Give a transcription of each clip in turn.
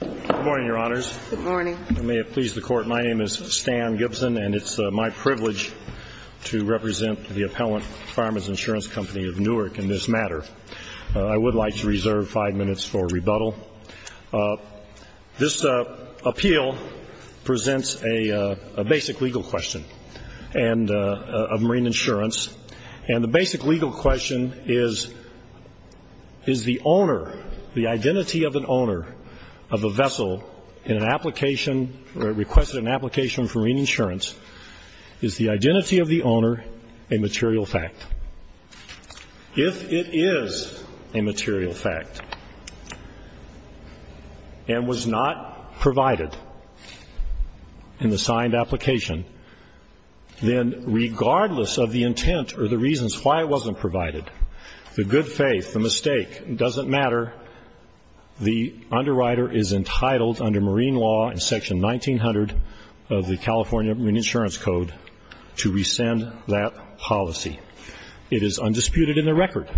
Good morning, Your Honors. Good morning. I may have pleased the Court. My name is Stan Gibson, and it's my privilege to represent the Appellant Farmer's Insurance Company of Newark in this matter. I would like to reserve five minutes for rebuttal. This appeal presents a basic legal question of marine insurance, and the basic legal question is, is the owner, the identity of an owner of a vessel in an application or requested an application for marine insurance, is the identity of the owner a material fact? If it is a material fact and was not provided in the signed application, then regardless of the intent or the reasons why it wasn't provided, the good faith, the mistake, it doesn't matter, the underwriter is entitled under marine law in Section 1900 of the California Marine Insurance Code to rescind that policy. It is undisputed in the record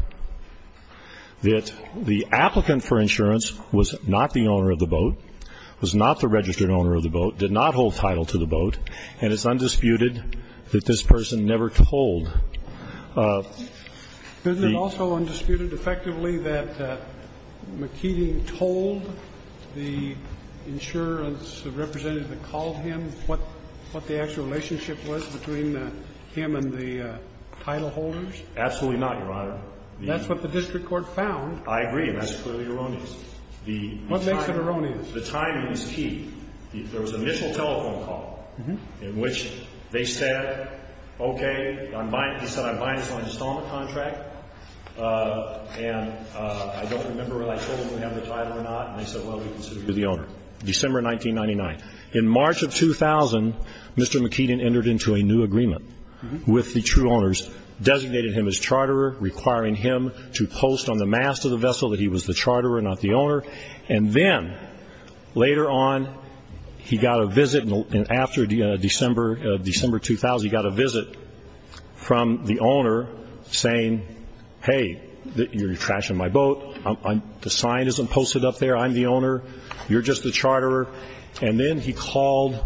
that the applicant for insurance was not the owner of the boat, was not the registered owner of the boat, did not hold title to the boat, and it's undisputed that this person never told the ---- Isn't it also undisputed effectively that McKeeting told the insurance representative that called him what the actual relationship was between him and the title holders? Absolutely not, Your Honor. That's what the district court found. I agree, and that's clearly erroneous. What makes it erroneous? The timing is key. There was an initial telephone call in which they said, okay, he said, I'm buying this on an installment contract, and I don't remember whether I told him we have the title or not, and they said, well, we consider you the owner, December 1999. In March of 2000, Mr. McKeeting entered into a new agreement with the two owners, designated him as charterer, requiring him to post on the mast of the vessel that he was the charterer, not the owner, and then later on he got a visit after December 2000, he got a visit from the owner saying, hey, you're trashing my boat. The sign isn't posted up there. I'm the owner. You're just the charterer. And then he called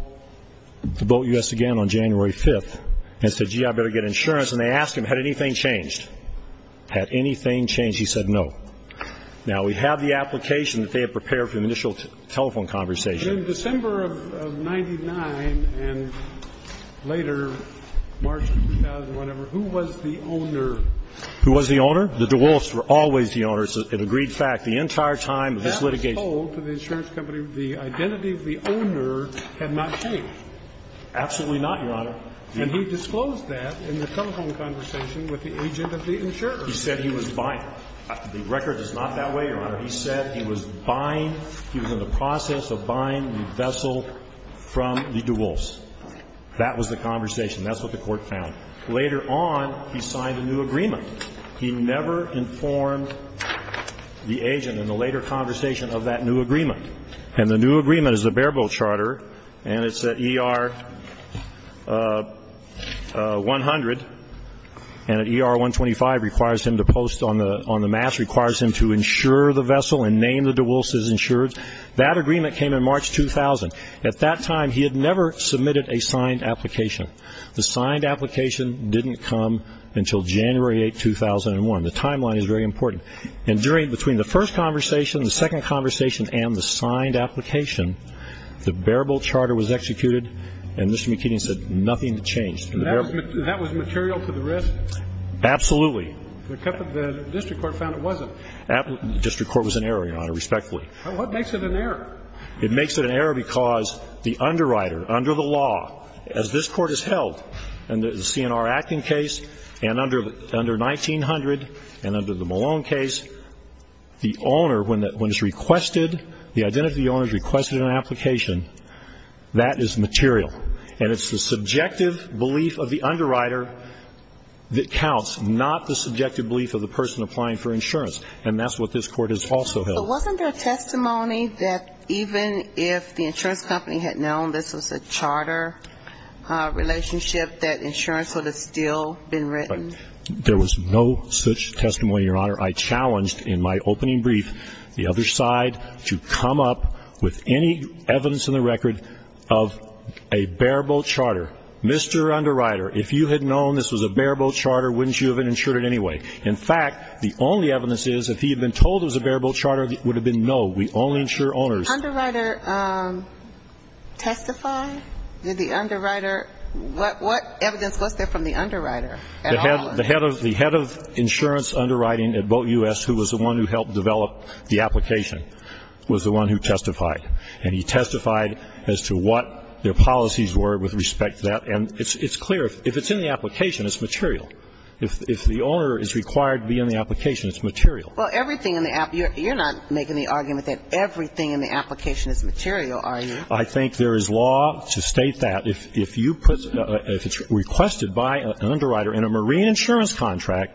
the BoatUS again on January 5th and said, gee, I better get insurance, and they asked him, had anything changed? Had anything changed? He said no. Now, we have the application that they have prepared for the initial telephone conversation. In December of 1999 and later, March 2000, whatever, who was the owner? Who was the owner? The DeWolfe's were always the owner. It's an agreed fact. The entire time of this litigation. That was told to the insurance company the identity of the owner had not changed. Absolutely not, Your Honor. And he disclosed that in the telephone conversation with the agent of the insurance. He said he was buying. The record is not that way, Your Honor. He said he was buying, he was in the process of buying the vessel from the DeWolfe's. That was the conversation. That's what the Court found. Later on, he signed a new agreement. He never informed the agent in the later conversation of that new agreement. And the new agreement is the bareboat charter, and it's at ER 100, and at ER 125 requires him to post on the mass, requires him to insure the vessel and name the DeWolfe's insured. That agreement came in March 2000. At that time, he had never submitted a signed application. The signed application didn't come until January 8, 2001. The timeline is very important. And during the first conversation, the second conversation, and the signed application, the bareboat charter was executed, and Mr. McKinney said nothing had changed. And that was material to the risk? Absolutely. The district court found it wasn't. The district court was in error, Your Honor, respectfully. What makes it an error? It makes it an error because the underwriter, under the law, as this Court has held, and the CNR Acton case, and under 1900, and under the Malone case, the owner, when it's requested, the identity of the owner is requested in an application, that is material. And it's the subjective belief of the underwriter that counts, not the subjective belief of the person applying for insurance. And that's what this Court has also held. But wasn't there testimony that even if the insurance company had known this was a charter relationship, that insurance would have still been written? There was no such testimony, Your Honor. I challenged in my opening brief the other side to come up with any evidence in the record of a bareboat charter. Mr. Underwriter, if you had known this was a bareboat charter, wouldn't you have insured it anyway? In fact, the only evidence is if he had been told it was a bareboat charter, it would have been no. We only insure owners. Did the underwriter testify? Did the underwriter ñ what evidence was there from the underwriter? The head of insurance underwriting at Boat U.S., who was the one who helped develop the application, was the one who testified. And he testified as to what their policies were with respect to that. And it's clear, if it's in the application, it's material. Well, everything in the ñ you're not making the argument that everything in the application is material, are you? I think there is law to state that. If you put ñ if it's requested by an underwriter in a marine insurance contract,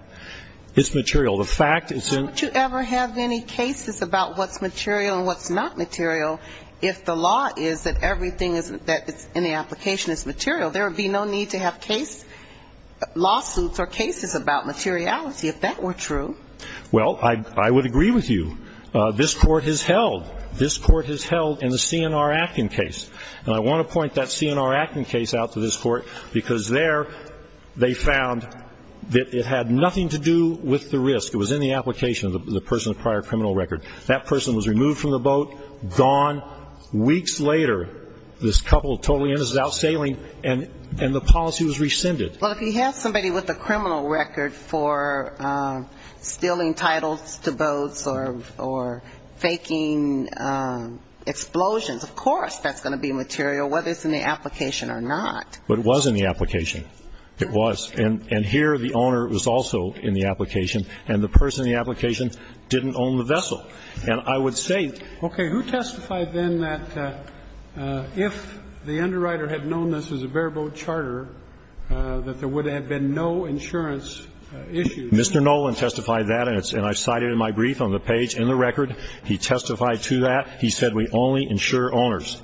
it's material. The fact is in ñ Why would you ever have any cases about what's material and what's not material if the law is that everything that's in the application is material? There would be no need to have lawsuits or cases about materiality if that were true. Well, I would agree with you. This Court has held ñ this Court has held in the C.N.R. Acton case, and I want to point that C.N.R. Acton case out to this Court, because there they found that it had nothing to do with the risk. It was in the application of the person with a prior criminal record. That person was removed from the boat, gone. Weeks later, this couple of totally innocent out sailing, and the policy was rescinded. But if you have somebody with a criminal record for stealing titles to boats or faking explosions, of course that's going to be material, whether it's in the application or not. But it was in the application. It was. And here the owner was also in the application, and the person in the application didn't own the vessel. And I would say ñ Okay. Okay. Who testified then that if the underwriter had known this was a bare-boat charter, that there would have been no insurance issues? Mr. Nolan testified that, and I cite it in my brief on the page in the record. He testified to that. He said, we only insure owners.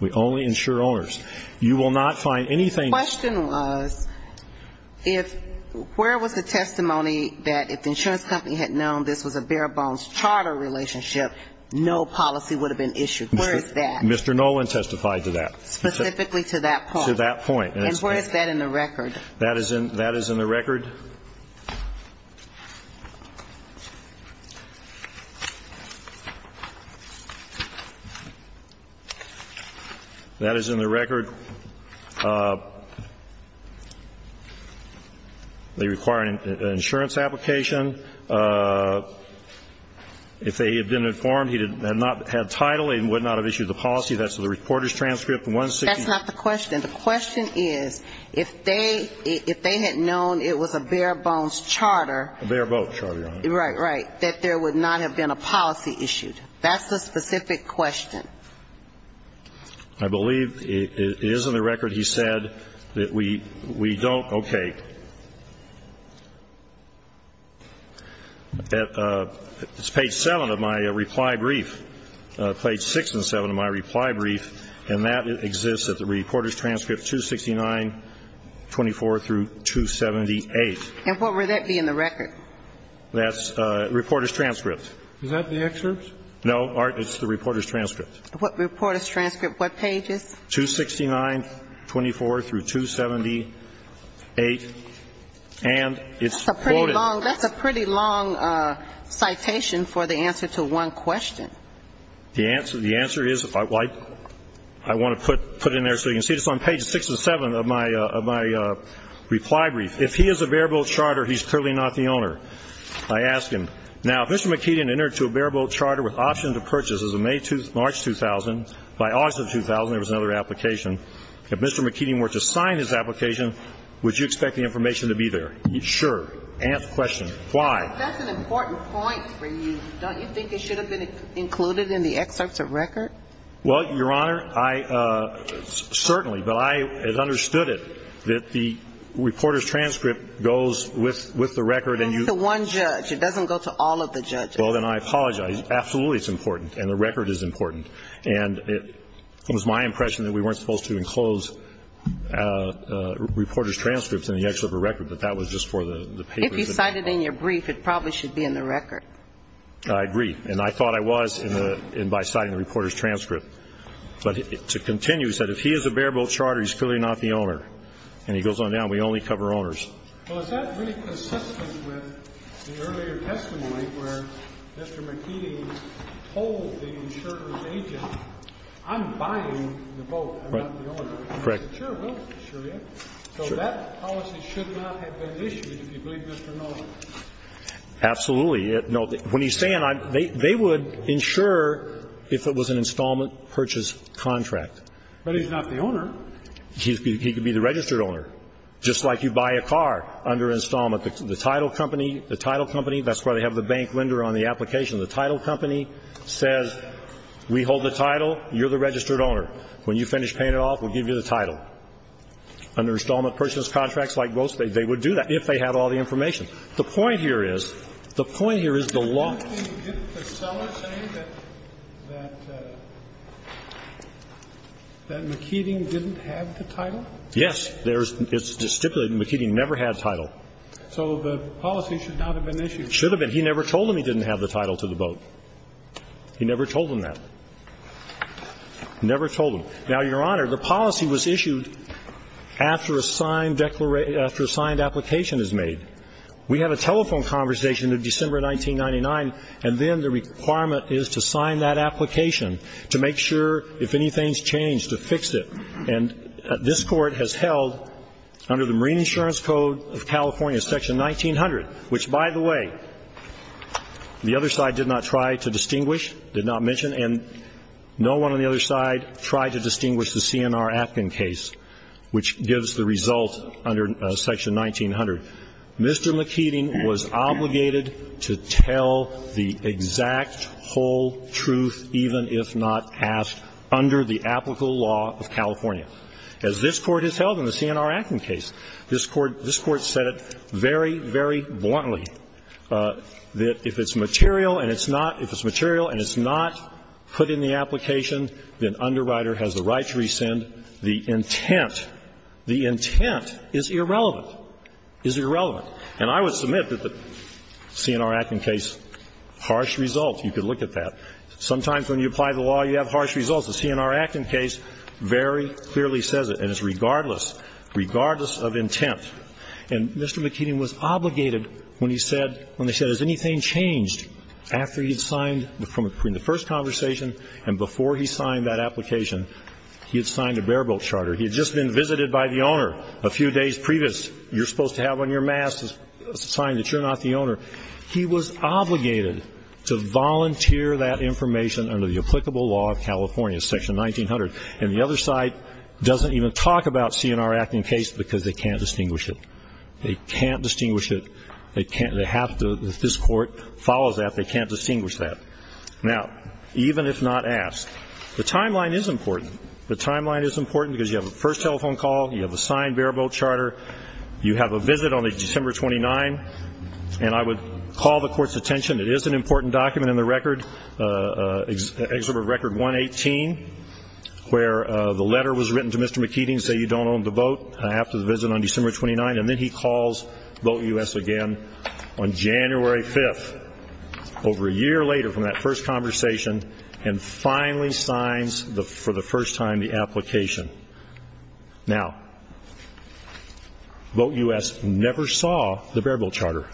We only insure owners. You will not find anything ñ The question was, if ñ where was the testimony that if the insurance company had known this was a bare-bones charter relationship, no policy would have been issued? Where is that? Mr. Nolan testified to that. Specifically to that point. To that point. And where is that in the record? That is in the record. That is in the record. They require an insurance application. If they had been informed he did not have title, he would not have issued the policy. That's the reporter's transcript. That's not the question. The question is, if they had known it was a bare-bones charter ñ A bare-boat charter, Your Honor. Right, right. That there would not have been a policy issued. That's the specific question. I believe it is in the record he said that we don't ñ okay. It's page 7 of my reply brief. Page 6 and 7 of my reply brief. And that exists at the reporter's transcript 269-24 through 278. And what would that be in the record? That's the reporter's transcript. No, it's the reporter's transcript. Reporter's transcript. What page is it? 269-24 through 278. And it's quoted. That's a pretty long citation for the answer to one question. The answer is ñ I want to put it in there so you can see it. It's on page 6 and 7 of my reply brief. If he is a bare-boat charter, he's clearly not the owner, I ask him. Now, if Mr. McKeegan entered to a bare-boat charter with option to purchase as of May 2, March 2000, by August of 2000 there was another application, if Mr. McKeegan were to sign his application, would you expect the information to be there? Sure. Answer the question. Why? That's an important point for you. Don't you think it should have been included in the excerpts of record? Well, Your Honor, I ñ certainly. But I have understood it, that the reporter's transcript goes with the record and you ñ It goes with the one judge. It doesn't go to all of the judges. Well, then I apologize. Absolutely it's important. And the record is important. And it was my impression that we weren't supposed to enclose reporter's transcripts in the excerpt of record, that that was just for the papers. If you cited in your brief, it probably should be in the record. I agree. And I thought I was by citing the reporter's transcript. But to continue, he said, if he is a bare-boat charter, he's clearly not the owner. And he goes on down. We only cover owners. Well, is that really consistent with the earlier testimony where Mr. McKee told the insurer's agent, I'm buying the boat, I'm not the owner. Correct. Sure, we'll insure you. So that policy should not have been issued, if you believe Mr. Miller. Absolutely. No. When he's saying I'm ñ they would insure if it was an installment purchase contract. But he's not the owner. He could be the registered owner. Just like you buy a car under installment. The title company, the title company, that's where they have the bank lender on the application. The title company says, we hold the title, you're the registered owner. When you finish paying it off, we'll give you the title. Under installment purchase contracts like boats, they would do that if they had all the information. The point here is, the point here is the lawó Yes. It's distributed. McKee never had title. So the policy should not have been issued. Should have been. He never told them he didn't have the title to the boat. He never told them that. Never told them. Now, Your Honor, the policy was issued after a signed declaration ñ after a signed application is made. We had a telephone conversation in December 1999, and then the requirement is to sign that application to make sure if anything's changed, to fix it. And this Court has held, under the Marine Insurance Code of California, Section 1900, which, by the way, the other side did not try to distinguish, did not mention, and no one on the other side tried to distinguish the C.N.R. Atkin case, which gives the result under Section 1900. Mr. McKeeting was obligated to tell the exact whole truth, even if not asked, under the applicable law of California. As this Court has held in the C.N.R. Atkin case, this Court said it very, very bluntly, that if it's material and it's notóif it's material and it's not put in the application, then underwriter has the right to rescind. The intentóthe intent is irrelevant. Is irrelevant. And I would submit that the C.N.R. Atkin case, harsh result. You could look at that. Sometimes when you apply the law, you have harsh results. The C.N.R. Atkin case very clearly says it, and it's regardless, regardless of intent. And Mr. McKeeting was obligated when he saidówhen they said, has anything changed after he had signed from the first conversation and before he signed that application, he had signed a bare-bolt charter. He had just been visited by the owner a few days previous. You're supposed to have on your mask a sign that you're not the owner. He was obligated to volunteer that information under the applicable law of California, Section 1900. And the other side doesn't even talk about C.N.R. Atkin case because they can't distinguish it. They can't distinguish it. They can'tóthey have toóthis Court follows that. They can't distinguish that. Now, even if not asked, the timeline is important. The timeline is important because you have a first telephone call. You have a signed bare-bolt charter. You have a visit on December 29, and I would call the Court's attentionóit is an important document in the recordó Exhibit Record 118, where the letter was written to Mr. McKeeting, saying you don't own the boat after the visit on December 29, and then he calls BoatUS again on January 5, over a year later from that first conversation, and finally signs, for the first time, the application. Now, BoatUS never saw the bare-bolt charter.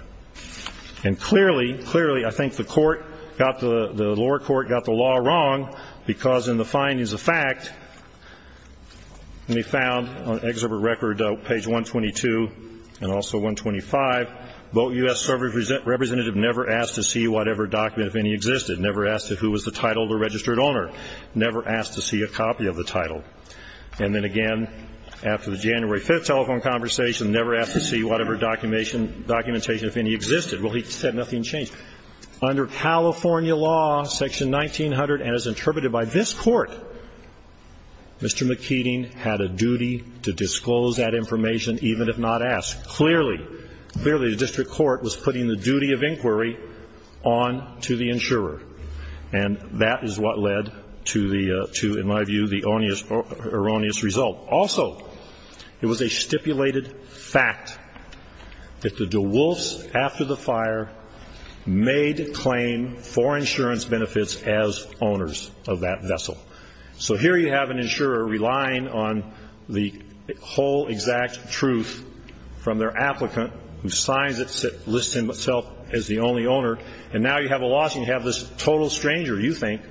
And clearly, clearly, I think the lower court got the law wrong because in the findings of fact, they found on Exhibit Record page 122 and also 125, BoatUS representative never asked to see whatever document, if any, existed, never asked who was the title of the registered owner, never asked to see a copy of the title. And then again, after the January 5 telephone conversation, never asked to see whatever documentation, if any, existed. Well, he said nothing changed. Under California law, section 1900, and as interpreted by this Court, Mr. McKeeting had a duty to disclose that information, even if not asked. Clearly, clearly the district court was putting the duty of inquiry on to the insurer, and that is what led to the, in my view, the erroneous result. Also, it was a stipulated fact that the DeWolfs, after the fire, made claim for insurance benefits as owners of that vessel. So here you have an insurer relying on the whole exact truth from their applicant, who signs it, lists himself as the only owner, and now you have a lawsuit and you have this total stranger, you think,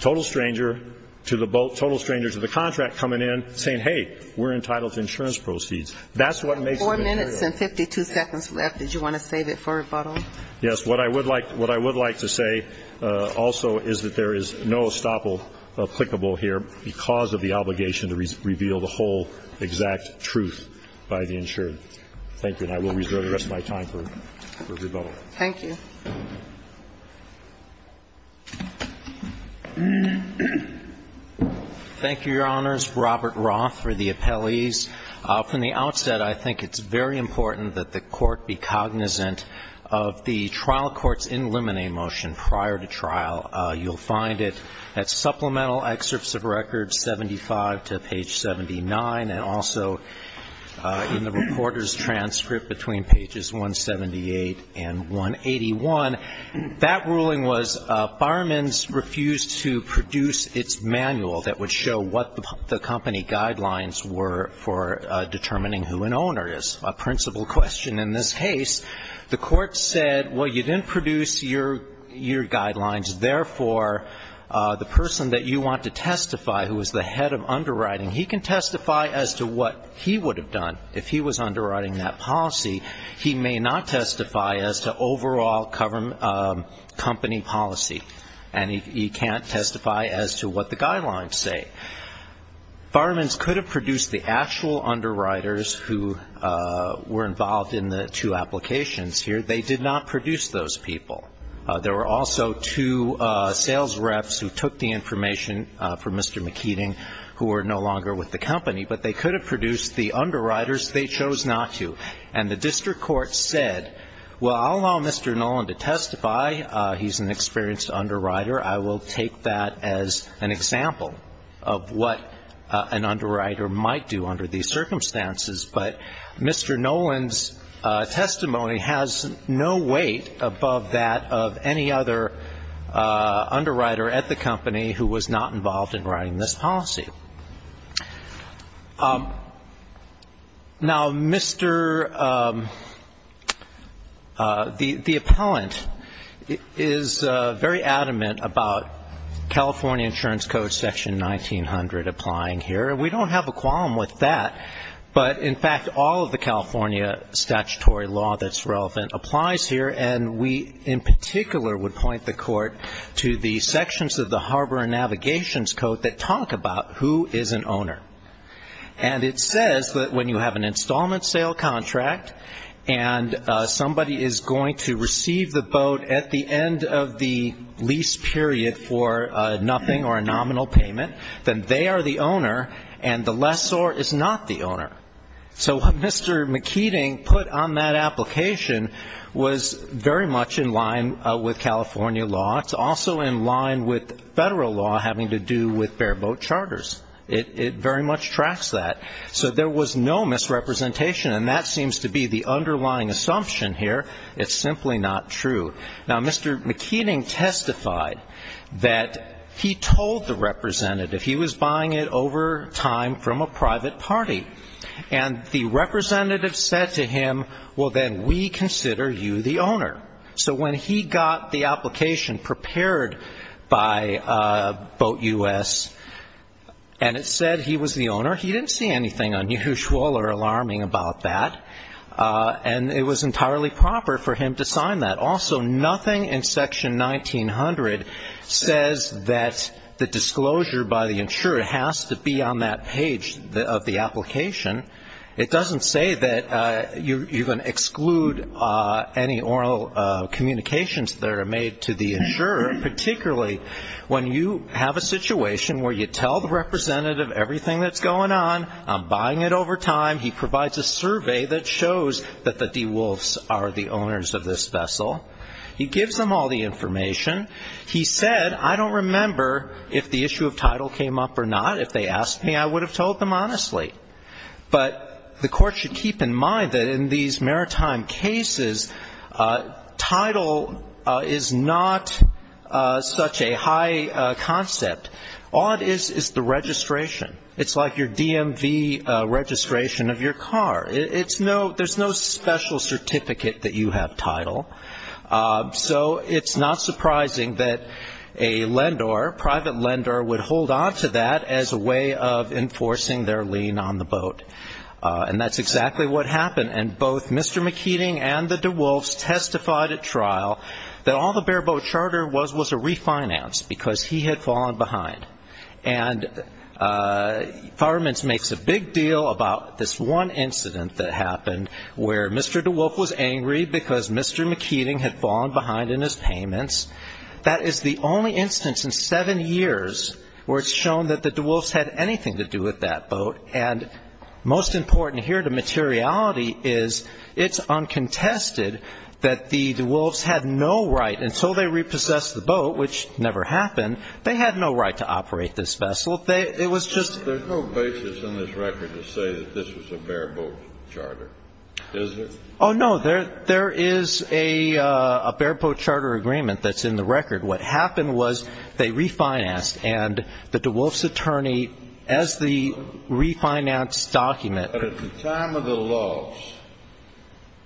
total stranger to the boat, total stranger to the contract coming in saying, hey, we're entitled to insurance proceeds. That's what makes it unreal. Four minutes and 52 seconds left. Did you want to save it for rebuttal? Yes. What I would like to say also is that there is no estoppel applicable here because of the obligation to reveal the whole exact truth by the insurer. Thank you. And I will reserve the rest of my time for rebuttal. Thank you. Thank you, Your Honors. Robert Roth for the appellees. From the outset, I think it's very important that the court be cognizant of the trial court's in limine motion prior to trial. You'll find it at supplemental excerpts of records 75 to page 79, and also in the reporter's transcript between pages 178 and 181. That ruling was firemen's refused to produce its manual that would show what the company guidelines were for determining who an owner is. A principle question in this case, the court said, well, you didn't produce your guidelines, therefore, the person that you want to testify who is the head of underwriting, he can testify as to what he would have done if he was underwriting that policy. He may not testify as to overall company policy, and he can't testify as to what the guidelines say. Firemen's could have produced the actual underwriters who were involved in the two applications here. They did not produce those people. There were also two sales reps who took the information from Mr. McKeating, who are no longer with the company, but they could have produced the underwriters. They chose not to. And the district court said, well, I'll allow Mr. Nolan to testify. He's an experienced underwriter. I will take that as an example of what an underwriter might do under these circumstances. But Mr. Nolan's testimony has no weight above that of any other underwriter at the company who was not involved in writing this policy. Now, Mr. the appellant is very adamant about California insurance code section 1900 applying here. And we don't have a qualm with that. But, in fact, all of the California statutory law that's relevant applies here, and we in particular would point the Court to the sections of the Harbor and Navigations Code that talk about who is an owner. And it says that when you have an installment sale contract and somebody is going to receive the boat at the end of the lease period for nothing or a nominal payment, then they are the owner and the lessor is not the owner. So what Mr. McKeating put on that application was very much in line with California law. It's also in line with federal law having to do with bare boat charters. It very much tracks that. So there was no misrepresentation, and that seems to be the underlying assumption here. It's simply not true. Now, Mr. McKeating testified that he told the representative he was buying it over time from a private party. And the representative said to him, well, then we consider you the owner. So when he got the application prepared by Boat U.S., and it said he was the owner, he didn't see anything unusual or alarming about that, and it was entirely proper for him to sign that. Also, nothing in Section 1900 says that the disclosure by the insurer has to be on that page of the application. It doesn't say that you're going to exclude any oral communications that are made to the insurer, particularly when you have a situation where you tell the representative everything that's going on, I'm buying it over time, he provides a survey that shows that the DeWolfs are the owners of this vessel. He gives them all the information. He said, I don't remember if the issue of title came up or not. If they asked me, I would have told them honestly. But the court should keep in mind that in these maritime cases, title is not such a high concept. All it is is the registration. It's like your DMV registration of your car. There's no special certificate that you have title. So it's not surprising that a lender, private lender, would hold on to that as a way of enforcing their lien on the boat. And that's exactly what happened. And both Mr. McKeating and the DeWolfs testified at trial that all the bare boat charter was was a refinance because he had fallen behind. And Fireman's makes a big deal about this one incident that happened where Mr. DeWolf was angry because Mr. McKeating had fallen behind in his payments. That is the only instance in seven years where it's shown that the DeWolfs had anything to do with that boat. And most important here to materiality is it's uncontested that the DeWolfs had no right, until they repossessed the boat, which never happened, they had no right to operate this vessel. It was just — There's no basis in this record to say that this was a bare boat charter, is there? Oh, no, there is a bare boat charter agreement that's in the record. What happened was they refinanced, and the DeWolfs attorney, as the refinanced document — But at the time of the loss,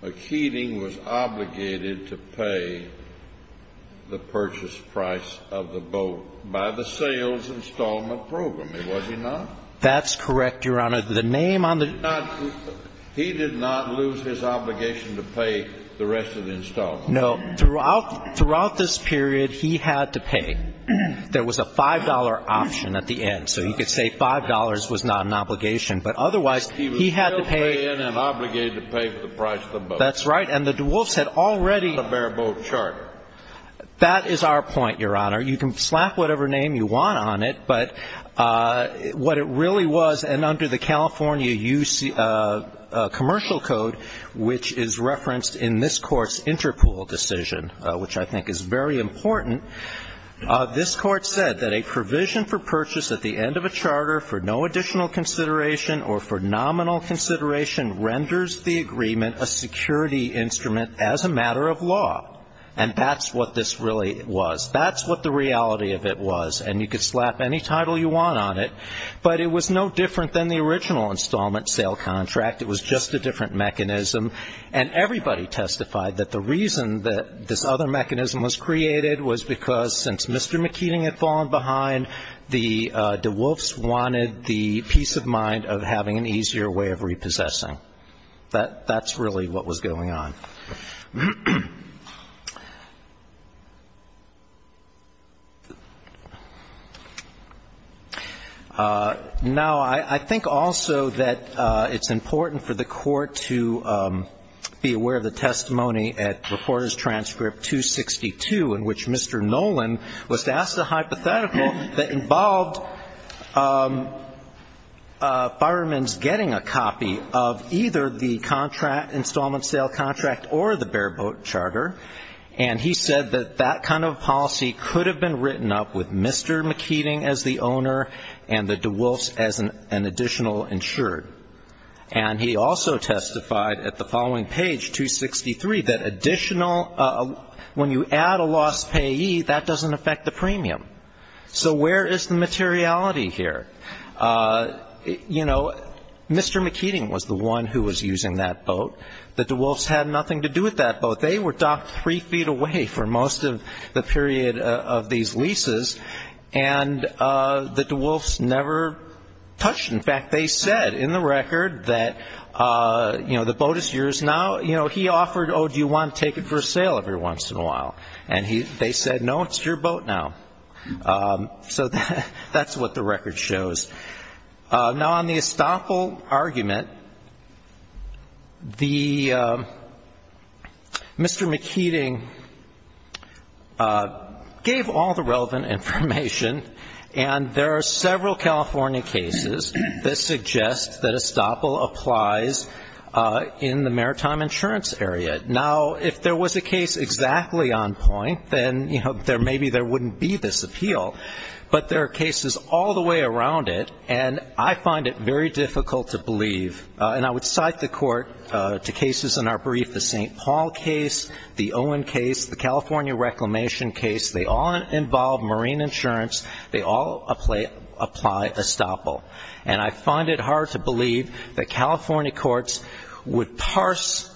McKeating was obligated to pay the purchase price of the boat by the sales installment program. Was he not? That's correct, Your Honor. The name on the — He did not lose his obligation to pay the rest of the installment. No. Throughout this period, he had to pay. There was a $5 option at the end, so you could say $5 was not an obligation. But otherwise, he had to pay — He was still paying and obligated to pay for the price of the boat. That's right. And the DeWolfs had already — It's not a bare boat charter. That is our point, Your Honor. You can slap whatever name you want on it, but what it really was, and under the California commercial code, which is referenced in this Court's Interpool decision, which I think is very important, this Court said that a provision for purchase at the end of a charter for no additional consideration or for nominal consideration renders the agreement a security instrument as a matter of law. And that's what this really was. That's what the reality of it was. And you could slap any title you want on it, but it was no different than the original installment sale contract. It was just a different mechanism. And everybody testified that the reason that this other mechanism was created was because, since Mr. McKeating had fallen behind, the DeWolfs wanted the peace of mind of having an easier way of repossessing. That's really what was going on. Now, I think also that it's important for the Court to be aware of the testimony at Reporters' Transcript 262, in which Mr. Nolan was asked a hypothetical that involved firemen's getting a copy of either the contract, installment sale contract, or the bare boat charter. And he said that that kind of policy could have been written up with Mr. McKeating as the owner and the DeWolfs as an additional insured. And he also testified at the following page, 263, that additional, when you add a loss payee, that doesn't affect the premium. So where is the materiality here? You know, Mr. McKeating was the one who was using that boat. The DeWolfs had nothing to do with that boat. They were docked three feet away for most of the period of these leases, and the DeWolfs never touched. In fact, they said in the record that, you know, the boat is yours now. You know, he offered, oh, do you want to take it for sale every once in a while? And they said, no, it's your boat now. So that's what the record shows. Now, on the estoppel argument, the Mr. McKeating gave all the relevant information, and there are several California cases that suggest that estoppel applies in the maritime insurance area. Now, if there was a case exactly on point, then, you know, maybe there wouldn't be this appeal. But there are cases all the way around it, and I find it very difficult to believe. And I would cite the Court to cases in our brief, the St. Paul case, the Owen case, the California reclamation case. They all involve marine insurance. They all apply estoppel. And I find it hard to believe that California courts would parse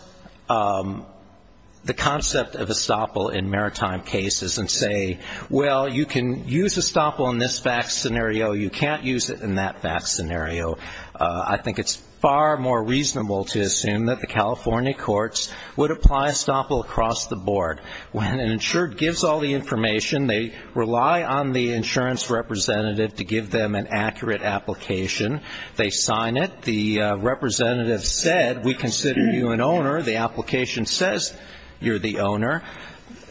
the concept of estoppel in maritime cases and say, well, you can use estoppel in this fact scenario, you can't use it in that fact scenario. I think it's far more reasonable to assume that the California courts would apply estoppel across the board. When an insured gives all the information, they rely on the insurance representative to give them an accurate application. They sign it. The representative said, we consider you an owner. The application says you're the owner.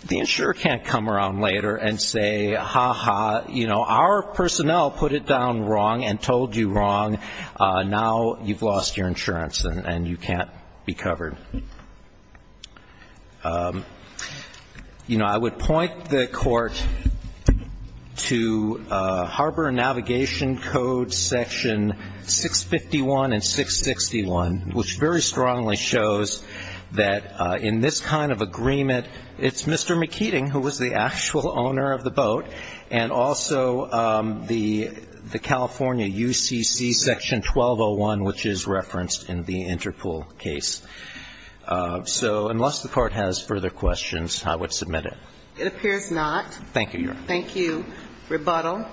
The insurer can't come around later and say, ha-ha, you know, our personnel put it down wrong and told you wrong. Now you've lost your insurance and you can't be covered. You know, I would point the Court to Harbor Navigation Code section 651 and 661, which very strongly shows that in this kind of agreement, it's Mr. McKeating who was the actual owner of the boat, and also the California UCC section 1201, which is referenced in the Interpol case. So unless the Court has further questions, I would submit it. It appears not. Thank you, Your Honor. Thank you. Rebuttal.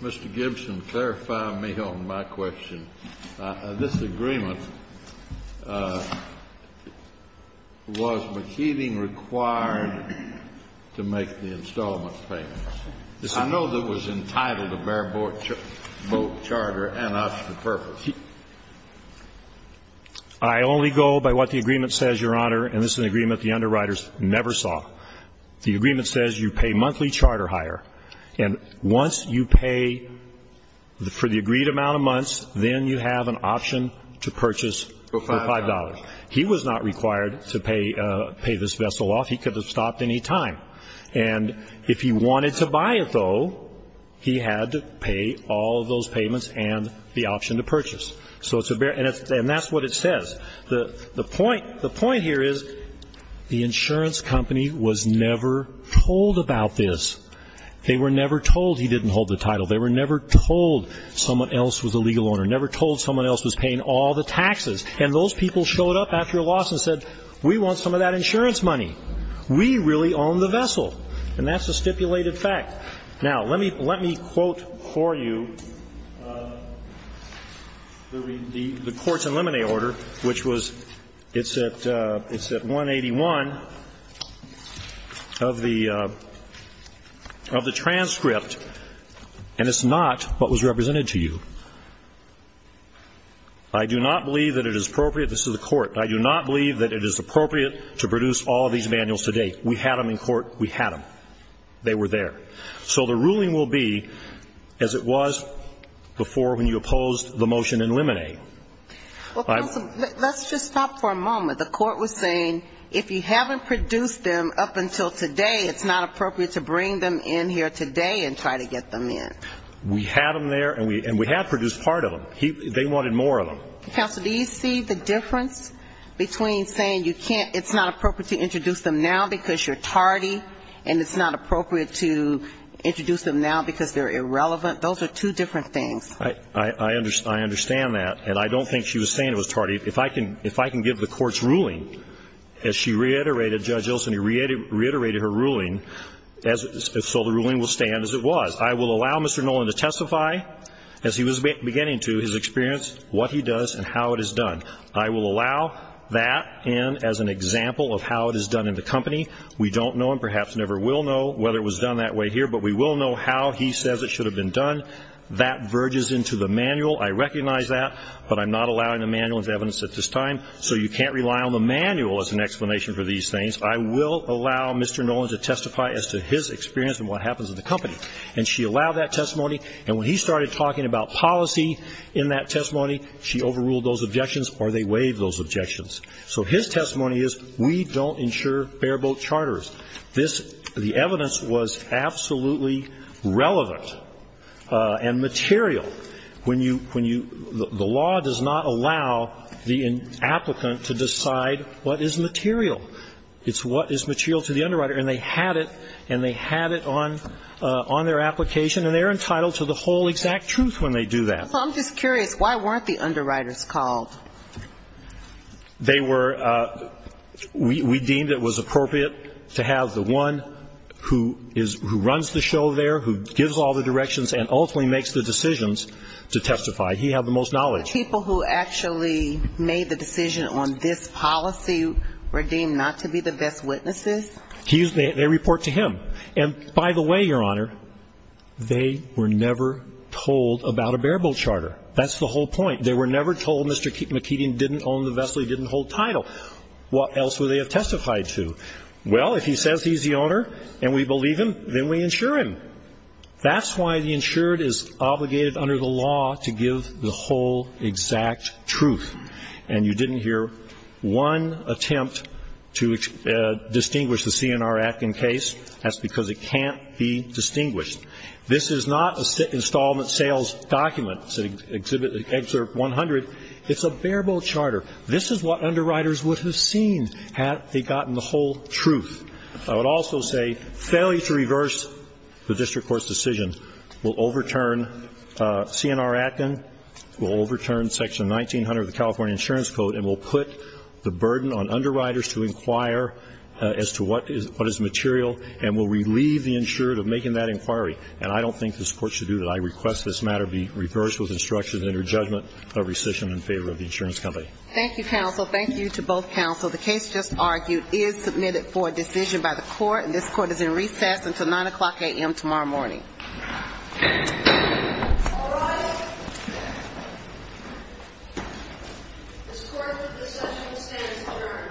Mr. Gibson, clarify me on my question. This agreement, was McKeating required to make the installment payment? I know that it was entitled to bear boat charter and option purpose. I only go by what the agreement says, Your Honor, and this is an agreement the underwriters never sign. The agreement says you pay monthly charter hire. And once you pay for the agreed amount of months, then you have an option to purchase for $5. He was not required to pay this vessel off. He could have stopped any time. And if he wanted to buy it, though, he had to pay all those payments and the option to purchase. And that's what it says. The point here is the insurance company was never told about this. They were never told he didn't hold the title. They were never told someone else was a legal owner, never told someone else was paying all the taxes. And those people showed up after a loss and said, we want some of that insurance money. We really own the vessel. And that's a stipulated fact. Now, let me quote for you the courts in limine order, which was, it's at 181 of the transcript. And it's not what was represented to you. I do not believe that it is appropriate. This is the court. I do not believe that it is appropriate to produce all these manuals today. We had them in court. We had them. They were there. So the ruling will be as it was before when you opposed the motion in limine. Well, counsel, let's just stop for a moment. The court was saying if you haven't produced them up until today, it's not appropriate to bring them in here today and try to get them in. We had them there, and we had produced part of them. They wanted more of them. Counsel, do you see the difference between saying you can't, it's not appropriate to introduce them now because you're tardy, and it's not appropriate to introduce them now because they're irrelevant? Those are two different things. I understand that. And I don't think she was saying it was tardy. If I can give the court's ruling, as she reiterated, Judge Ilson, he reiterated her ruling, so the ruling will stand as it was. I will allow Mr. Nolan to testify, as he was beginning to, his experience, what he does and how it is done. I will allow that, and as an example of how it is done in the company, we don't know and perhaps never will know whether it was done that way here, but we will know how he says it should have been done. That verges into the manual. I recognize that, but I'm not allowing the manual as evidence at this time. So you can't rely on the manual as an explanation for these things. I will allow Mr. Nolan to testify as to his experience and what happens in the company. And she allowed that testimony. And when he started talking about policy in that testimony, she overruled those objections or they waived those objections. So his testimony is, we don't insure bare-boat charters. This, the evidence was absolutely relevant and material. When you, when you, the law does not allow the applicant to decide what is material. It's what is material to the underwriter. And they had it, and they had it on, on their application, and they're entitled to the whole exact truth when they do that. So I'm just curious, why weren't the underwriters called? They were, we deemed it was appropriate to have the one who is, who runs the show there, who gives all the directions, and ultimately makes the decisions to testify. He had the most knowledge. The people who actually made the decision on this policy were deemed not to be the best witnesses? They report to him. And by the way, Your Honor, they were never told about a bare-boat charter. That's the whole point. They were never told Mr. McKeegan didn't own the vessel, he didn't hold title. What else would they have testified to? Well, if he says he's the owner and we believe him, then we insure him. That's why the insured is obligated under the law to give the whole exact truth. And you didn't hear one attempt to distinguish the CNR-Atkin case. That's because it can't be distinguished. This is not an installment sales document, Excerpt 100. It's a bare-boat charter. This is what underwriters would have seen had they gotten the whole truth. I would also say failure to reverse the district court's decision will overturn CNR-Atkin, will overturn Section 1900 of the California Insurance Code, and will put the burden on underwriters to inquire as to what is material and will relieve the insured of making that inquiry. And I don't think this Court should do that. I request this matter be reversed with instructions and your judgment of rescission in favor of the insurance company. Thank you, counsel. Thank you to both counsel. The case just argued is submitted for a decision by the Court, and this Court is in recess until 9 o'clock a.m. tomorrow morning. All rise. This Court in recessional stands adjourned. The Court is adjourned.